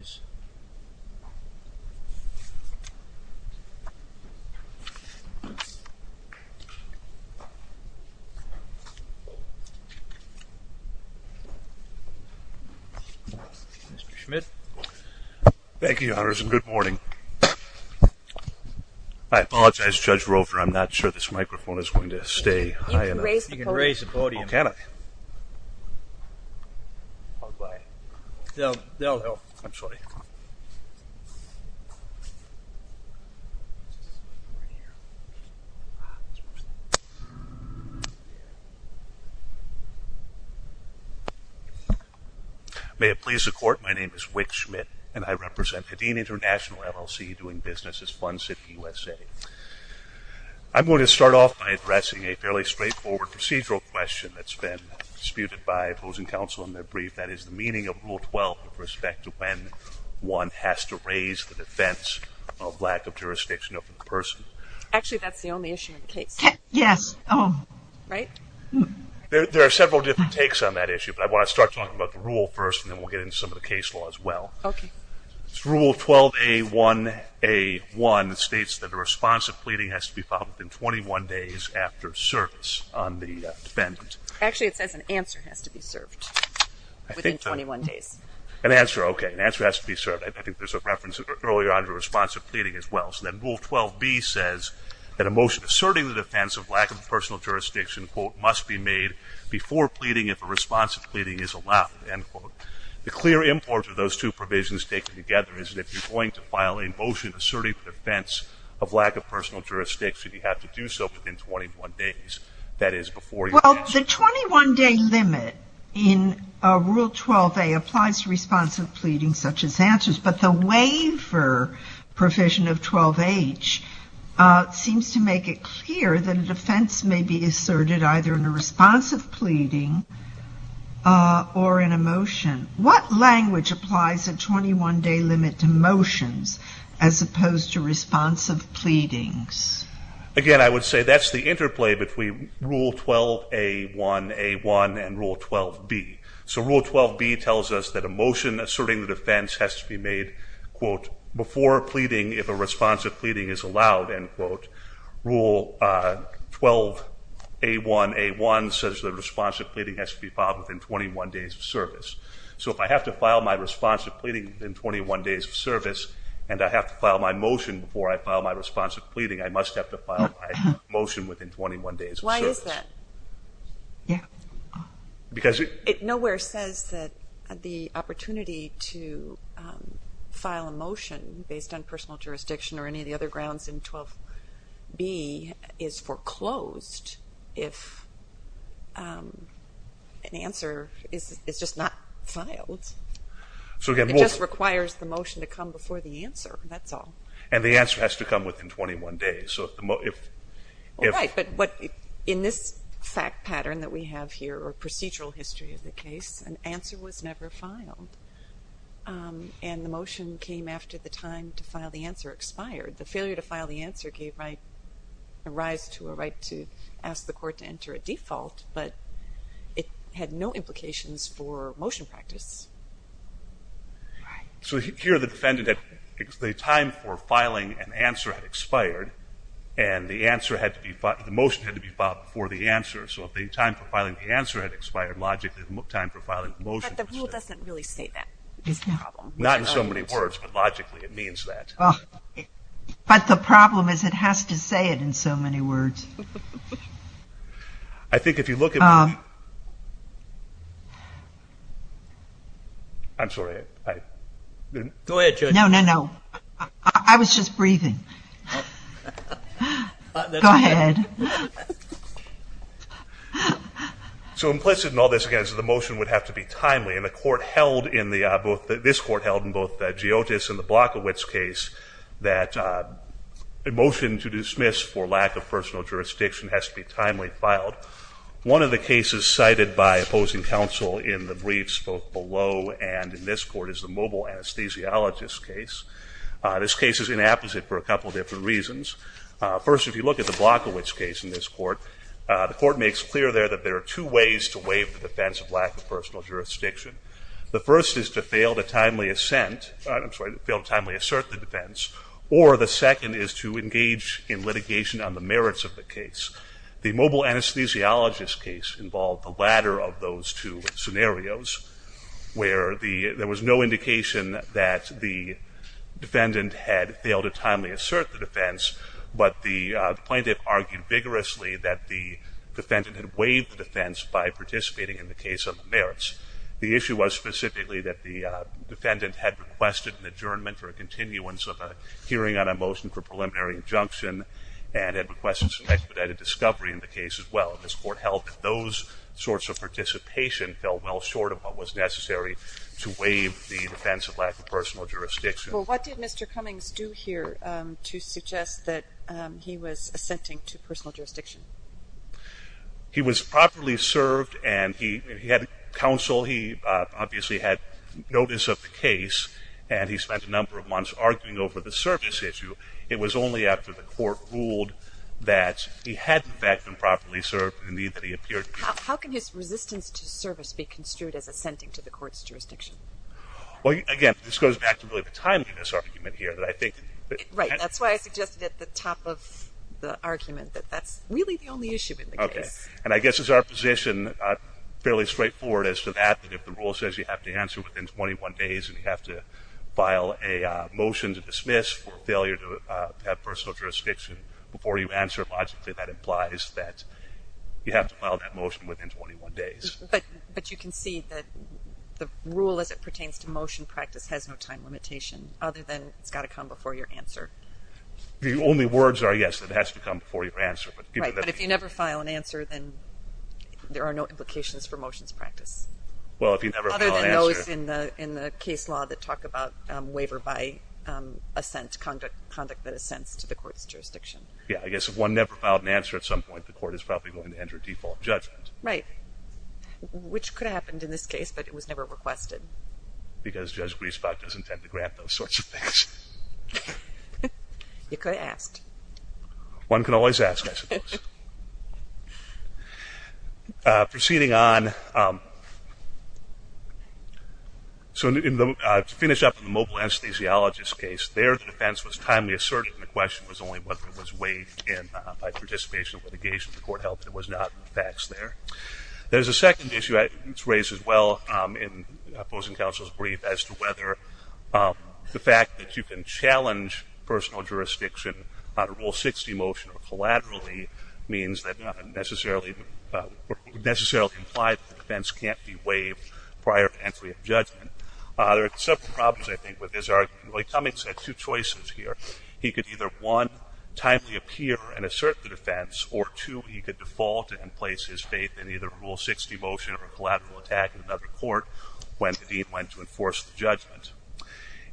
Mr. Schmidt. Thank you, Your Honors, and good morning. I apologize, Judge Roper, I'm not sure this microphone is going to stay high enough. You can raise the podium. Oh, can I? May it please the Court, my name is Wick Schmidt, and I represent Hedeen International, LLC, doing business as Fun City, USA. I'm going to start off by addressing a fairly straightforward procedural question that's been disputed by opposing counsel in their brief, that is, the meaning of Rule 12 with respect to when one has to raise the defense of lack of jurisdiction over the person. Actually, that's the only issue in the case. Yes. Right? There are several different takes on that issue, but I want to start talking about the rule first, and then we'll get into some of the case law as well. Okay. Rule 12A1A1 states that a response of pleading has to be filed within 21 days after service on the defendant. Actually, it says an answer has to be served within 21 days. An answer, okay. An answer has to be served. I think there's a reference earlier on to a response of pleading as well. So then Rule 12B says that a motion asserting the defense of lack of personal jurisdiction, quote, must be made before pleading if a response of pleading is allowed, end quote. The clear import of those two provisions taken together is that if you're going to file a motion asserting the defense of lack of personal jurisdiction, you have to do so within 21 days, that is, before you answer. Well, the 21-day limit in Rule 12A applies to response of pleading such as answers, but the waiver provision of 12H seems to make it clear that a defense may be asserted either in a response of pleading or in a motion. What language applies a 21-day limit to motions as opposed to response of pleadings? Again, I would say that's the interplay between Rule 12A1A1 and Rule 12B. So Rule 12B tells us that a motion asserting the defense has to be made, quote, before pleading if a response of pleading is allowed, end quote. Rule 12A1A1 says the response of pleading has to be filed within 21 days of service. So if I have to file my response of pleading within 21 days of service and I have to file my motion before I file my response of pleading, I must have to file my motion within 21 days of service. Why is that? Yeah. Because it... It nowhere says that the opportunity to file a motion based on personal jurisdiction or any of the other grounds in 12B is foreclosed if an answer is just not filed. So again, we'll... The answer has to come before the answer. That's all. And the answer has to come within 21 days. So if... All right. But what... In this fact pattern that we have here or procedural history of the case, an answer was never filed. And the motion came after the time to file the answer expired. The failure to file the answer gave rise to a right to ask the court to enter a default, but it had no implications for motion practice. Right. So here, the defendant had... The time for filing an answer had expired and the answer had to be... The motion had to be filed before the answer. So if the time for filing the answer had expired, logically the time for filing the motion... But the rule doesn't really state that, is the problem. Not in so many words, but logically it means that. But the problem is it has to say it in so many words. I think if you look at... I'm sorry. I... Go ahead, Judge. No, no, no. I was just breathing. Go ahead. So implicit in all this, again, is that the motion would have to be timely. And the court held in the... This court held in both the Giotis and the Blockowitz case that a motion to dismiss for lack of personal jurisdiction has to be timely filed. One of the cases cited by opposing counsel in the briefs both below and in this court is the mobile anesthesiologist case. This case is inapposite for a couple different reasons. First, if you look at the Blockowitz case in this court, the court makes clear there that there are two ways to waive the defense of lack of personal jurisdiction. The first is to fail to timely assent... I'm sorry, fail to timely assert the defense. Or the second is to engage in litigation on the merits of the case. The mobile anesthesiologist case involved the latter of those two scenarios where there was no indication that the defendant had failed to timely assert the defense, but the plaintiff argued vigorously that the defendant had waived the defense by participating in the case on the merits. The issue was specifically that the defendant had requested an adjournment or a continuance of a hearing on a motion for preliminary injunction and had requested some expedited discovery in the case as well. And this court held that those sorts of participation fell well short of what was necessary to waive the defense of lack of personal jurisdiction. Well, what did Mr. Cummings do here to suggest that he was assenting to personal jurisdiction? He was properly served and he had counsel. While he obviously had notice of the case and he spent a number of months arguing over the service issue, it was only after the court ruled that he had in fact been properly served and indeed that he appeared to be. How can his resistance to service be construed as assenting to the court's jurisdiction? Well, again, this goes back to really the timeliness argument here that I think... Right, that's why I suggested at the top of the argument that that's really the only issue in the case. And I guess it's our position, fairly straightforward as to that, that if the rule says you have to answer within 21 days and you have to file a motion to dismiss for failure to have personal jurisdiction before you answer, logically that implies that you have to file that motion within 21 days. But you can see that the rule as it pertains to motion practice has no time limitation other than it's got to come before your answer. The only words are yes, it has to come before your answer. Right, but if you never file an answer, then there are no implications for motions practice. Well, if you never file an answer... Other than those in the case law that talk about waiver by assent, conduct that assents to the court's jurisdiction. Yeah, I guess if one never filed an answer at some point, the court is probably going to enter a default judgment. Right, which could have happened in this case, but it was never requested. Because Judge Griesbach doesn't tend to grant those sorts of things. You could have asked. One can always ask, I suppose. Proceeding on, to finish up on the mobile anesthesiologist case, their defense was timely assertive and the question was only whether it was weighed in by participation of litigation. The court held that it was not in the facts there. There's a second issue that's raised as well in opposing counsel's brief as to whether the fact that you can challenge personal jurisdiction on a Rule 60 motion or collaterally means that it doesn't necessarily imply that the defense can't be waived prior to entry of judgment. There are several problems, I think, with this argument. Roy Cummings had two choices here. He could either, one, timely appear and assert the defense, or two, he could default and place his faith in either a Rule 60 motion or a collateral attack in another court when the dean went to enforce the judgment.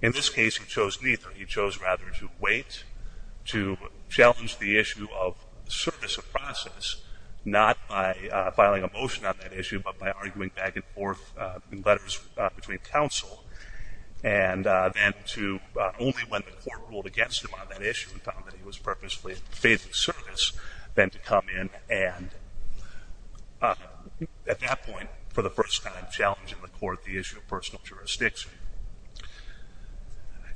In this case, he chose neither. He chose rather to wait, to challenge the issue of service of process, not by filing a motion on that issue, but by arguing back and forth in letters between counsel, and then to, only when the court ruled against him on that issue and found that he was purposefully in faithful service, then to come in and, at that point, for the first time, challenge in the court the issue of personal jurisdiction.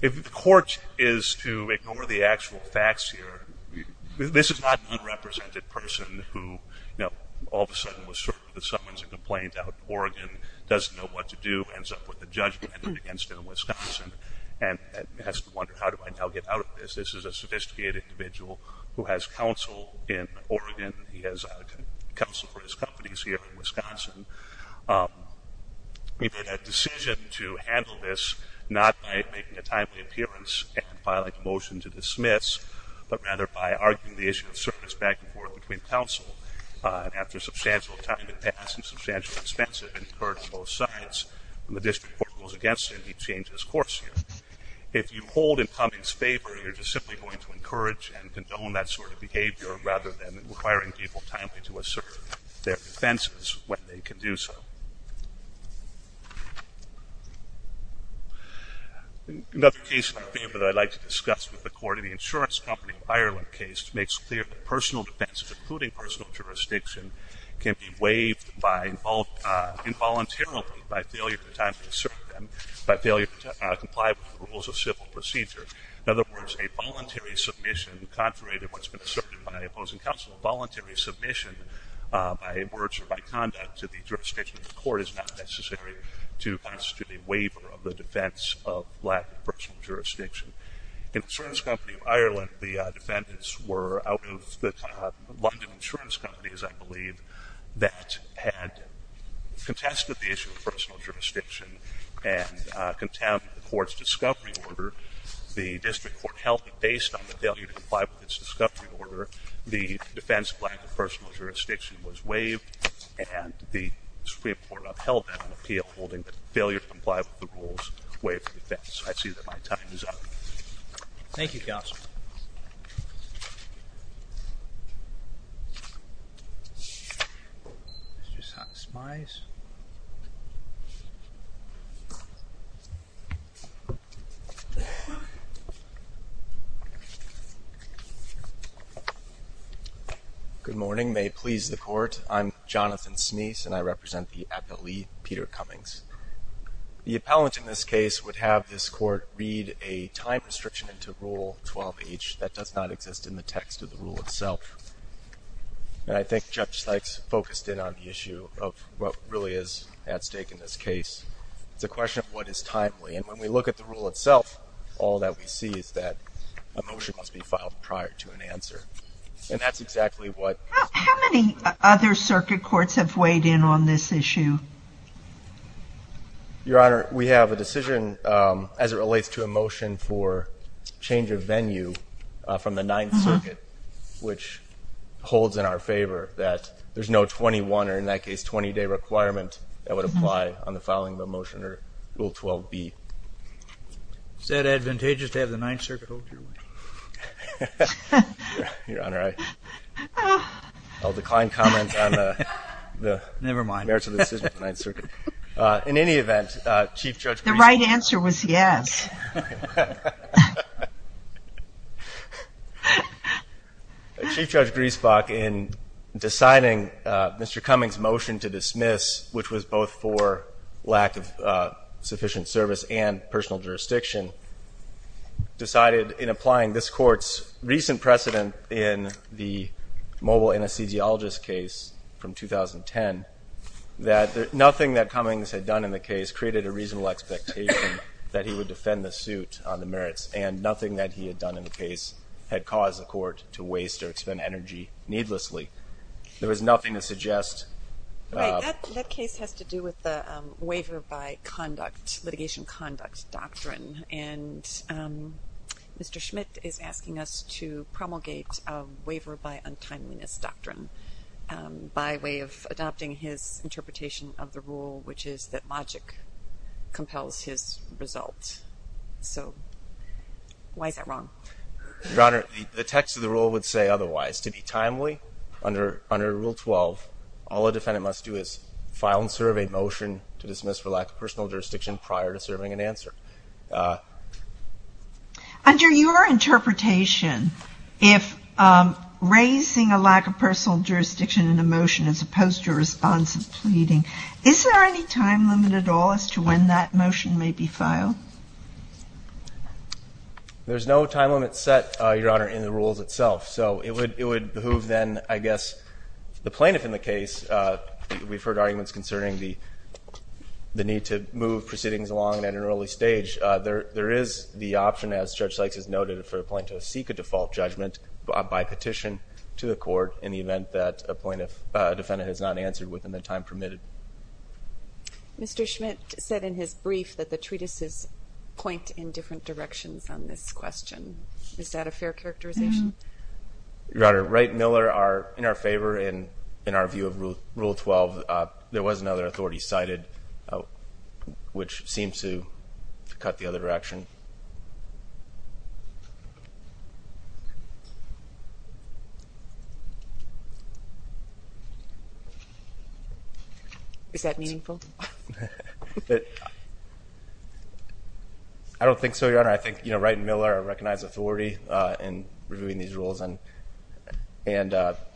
If the court is to ignore the actual facts here, this is not an unrepresented person who, you know, all of a sudden was certain that someone's a complaint out in Oregon, doesn't know what to do, ends up with a judgment against him in Wisconsin, and has to wonder, how do I now get out of this? This is a sophisticated individual who has counsel in Oregon. He has counsel for his companies here in Wisconsin. He made a decision to handle this not by making a timely appearance and filing a motion to dismiss, but rather by arguing the issue of service back and forth between counsel. After substantial time had passed and substantial expense had been incurred on both sides, when the district court rules against him, he changed his course here. If you hold incumbents' favor, you're just simply going to encourage and condone that sort of behavior rather than requiring people timely to assert their defenses when they can do so. Another case in the field that I'd like to discuss with the court is the insurance company Ireland case, which makes clear that personal defense, including personal jurisdiction, can be waived involuntarily by failure to comply with the rules of civil procedure. In other words, a voluntary submission, contrary to what's been asserted by opposing counsel, a voluntary submission by words or by conduct to the jurisdiction of the court is not necessary to constitute a waiver of the defense of lack of personal jurisdiction. In the insurance company of Ireland, the defendants were out of the London insurance companies, I believe, that had contested the issue of personal jurisdiction and contaminated the discovery order. The district court held that based on the failure to comply with its discovery order, the defense of lack of personal jurisdiction was waived, and the Supreme Court upheld that on appeal, holding that failure to comply with the rules waived the defense. I see that my time is up. Thank you, counsel. Mr. Sonsmeis? Good morning. May it please the court, I'm Jonathan Sonsmeis, and I represent the appellee Peter Cummings. The appellant in this case would have this court read a time restriction into Rule 12H that does not exist in the text of the rule itself. And I think Judge Sykes focused in on the issue of what really is at stake in this case. It's a question of what is timely. And when we look at the rule itself, all that we see is that a motion must be filed prior to an answer. And that's exactly what... How many other circuit courts have weighed in on this issue? Your Honor, we have a decision as it relates to a motion for change of venue from the Ninth Circuit, which holds in our favor that there's no 21 or, in that case, 20-day requirement that would apply on the filing of a motion under Rule 12B. Is that advantageous to have the Ninth Circuit hold your weight? Your Honor, I'll decline comment on the merits of the decision of the Ninth Circuit. In any event, Chief Judge Griesbach... The right answer was yes. Chief Judge Griesbach, in deciding Mr. Cummings' motion to dismiss, which was both for lack of sufficient service and personal jurisdiction, decided in applying this Court's recent precedent in the mobile anesthesiologist case from 2010, that nothing that Cummings had done in the suit on the merits and nothing that he had done in the case had caused the Court to waste or expend energy needlessly. There was nothing to suggest... Right. That case has to do with the waiver-by-conduct, litigation-conduct doctrine. And Mr. Schmidt is asking us to promulgate a waiver-by-untimeliness doctrine by way of a waiver-by-untimeliness doctrine. So why is that wrong? Your Honor, the text of the rule would say otherwise. To be timely, under Rule 12, all a defendant must do is file and serve a motion to dismiss for lack of personal jurisdiction prior to serving an answer. Under your interpretation, if raising a lack of personal jurisdiction in a motion as opposed to responsive pleading, is there any time limit at all as to when that motion may be filed? There's no time limit set, Your Honor, in the rules itself. So it would behoove then, I guess, the plaintiff in the case. We've heard arguments concerning the need to move proceedings along at an early stage. There is the option, as Judge Sykes has noted, for a plaintiff to seek a default judgment by petition to the Court in the event that a defendant has not answered within the time permitted. Mr. Schmidt said in his brief that the treatises point in different directions on this question. Is that a fair characterization? Your Honor, Wright and Miller are in our favor, and in our view of Rule 12, there was another authority cited, which seems to cut the other direction. Is that meaningful? I don't think so, Your Honor. I think Wright and Miller recognize authority in reviewing these rules and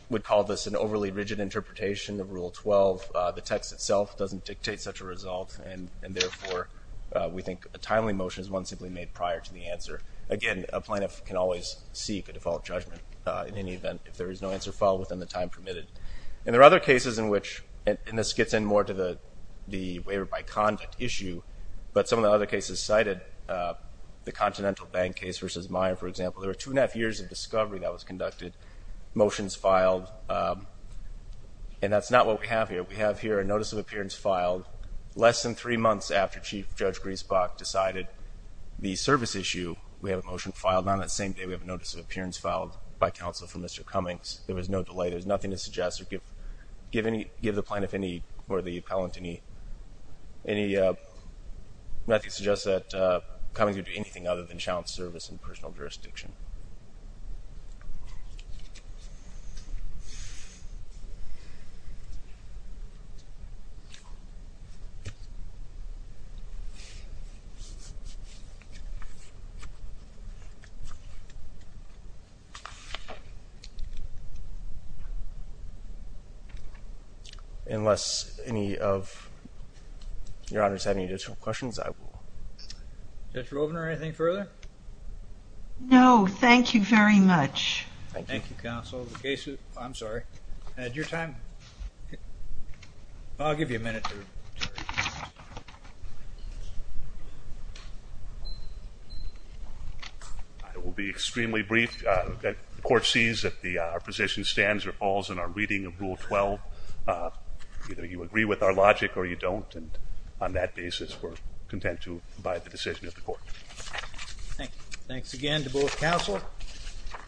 would call this an overly rigid interpretation of Rule 12. The text itself doesn't dictate such a result, and therefore we think a timely motion is one simply made prior to the answer. Again, a plaintiff can always seek a default judgment in any event if there is no answer filed within the time permitted. And there are other cases in which, and this gets in more to the waiver by conduct issue, but some of the other cases cited, the Continental Bank case versus Meyer, for example. There were two and a half years of discovery that was conducted, motions filed, and that's not what we have here. We have here a notice of appearance filed less than three months after Chief Judge Griesbach decided the service issue. We have a motion filed on that same day. I would like to ask the plaintiff, or the appellant, Matthew, to suggest that Cummings would do anything other than challenge service in personal jurisdiction. Unless any of your honors have any additional questions, I will. Judge Rovner, anything further? No, thank you very much. Thank you, counsel. I will be extremely brief. The court sees that our position stands or falls in our reading of Rule 12. Either you agree with our logic or you don't, and on that basis we're content to abide by the decision of the court. Thanks again to both counsel.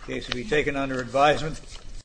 The case will be taken under advisement.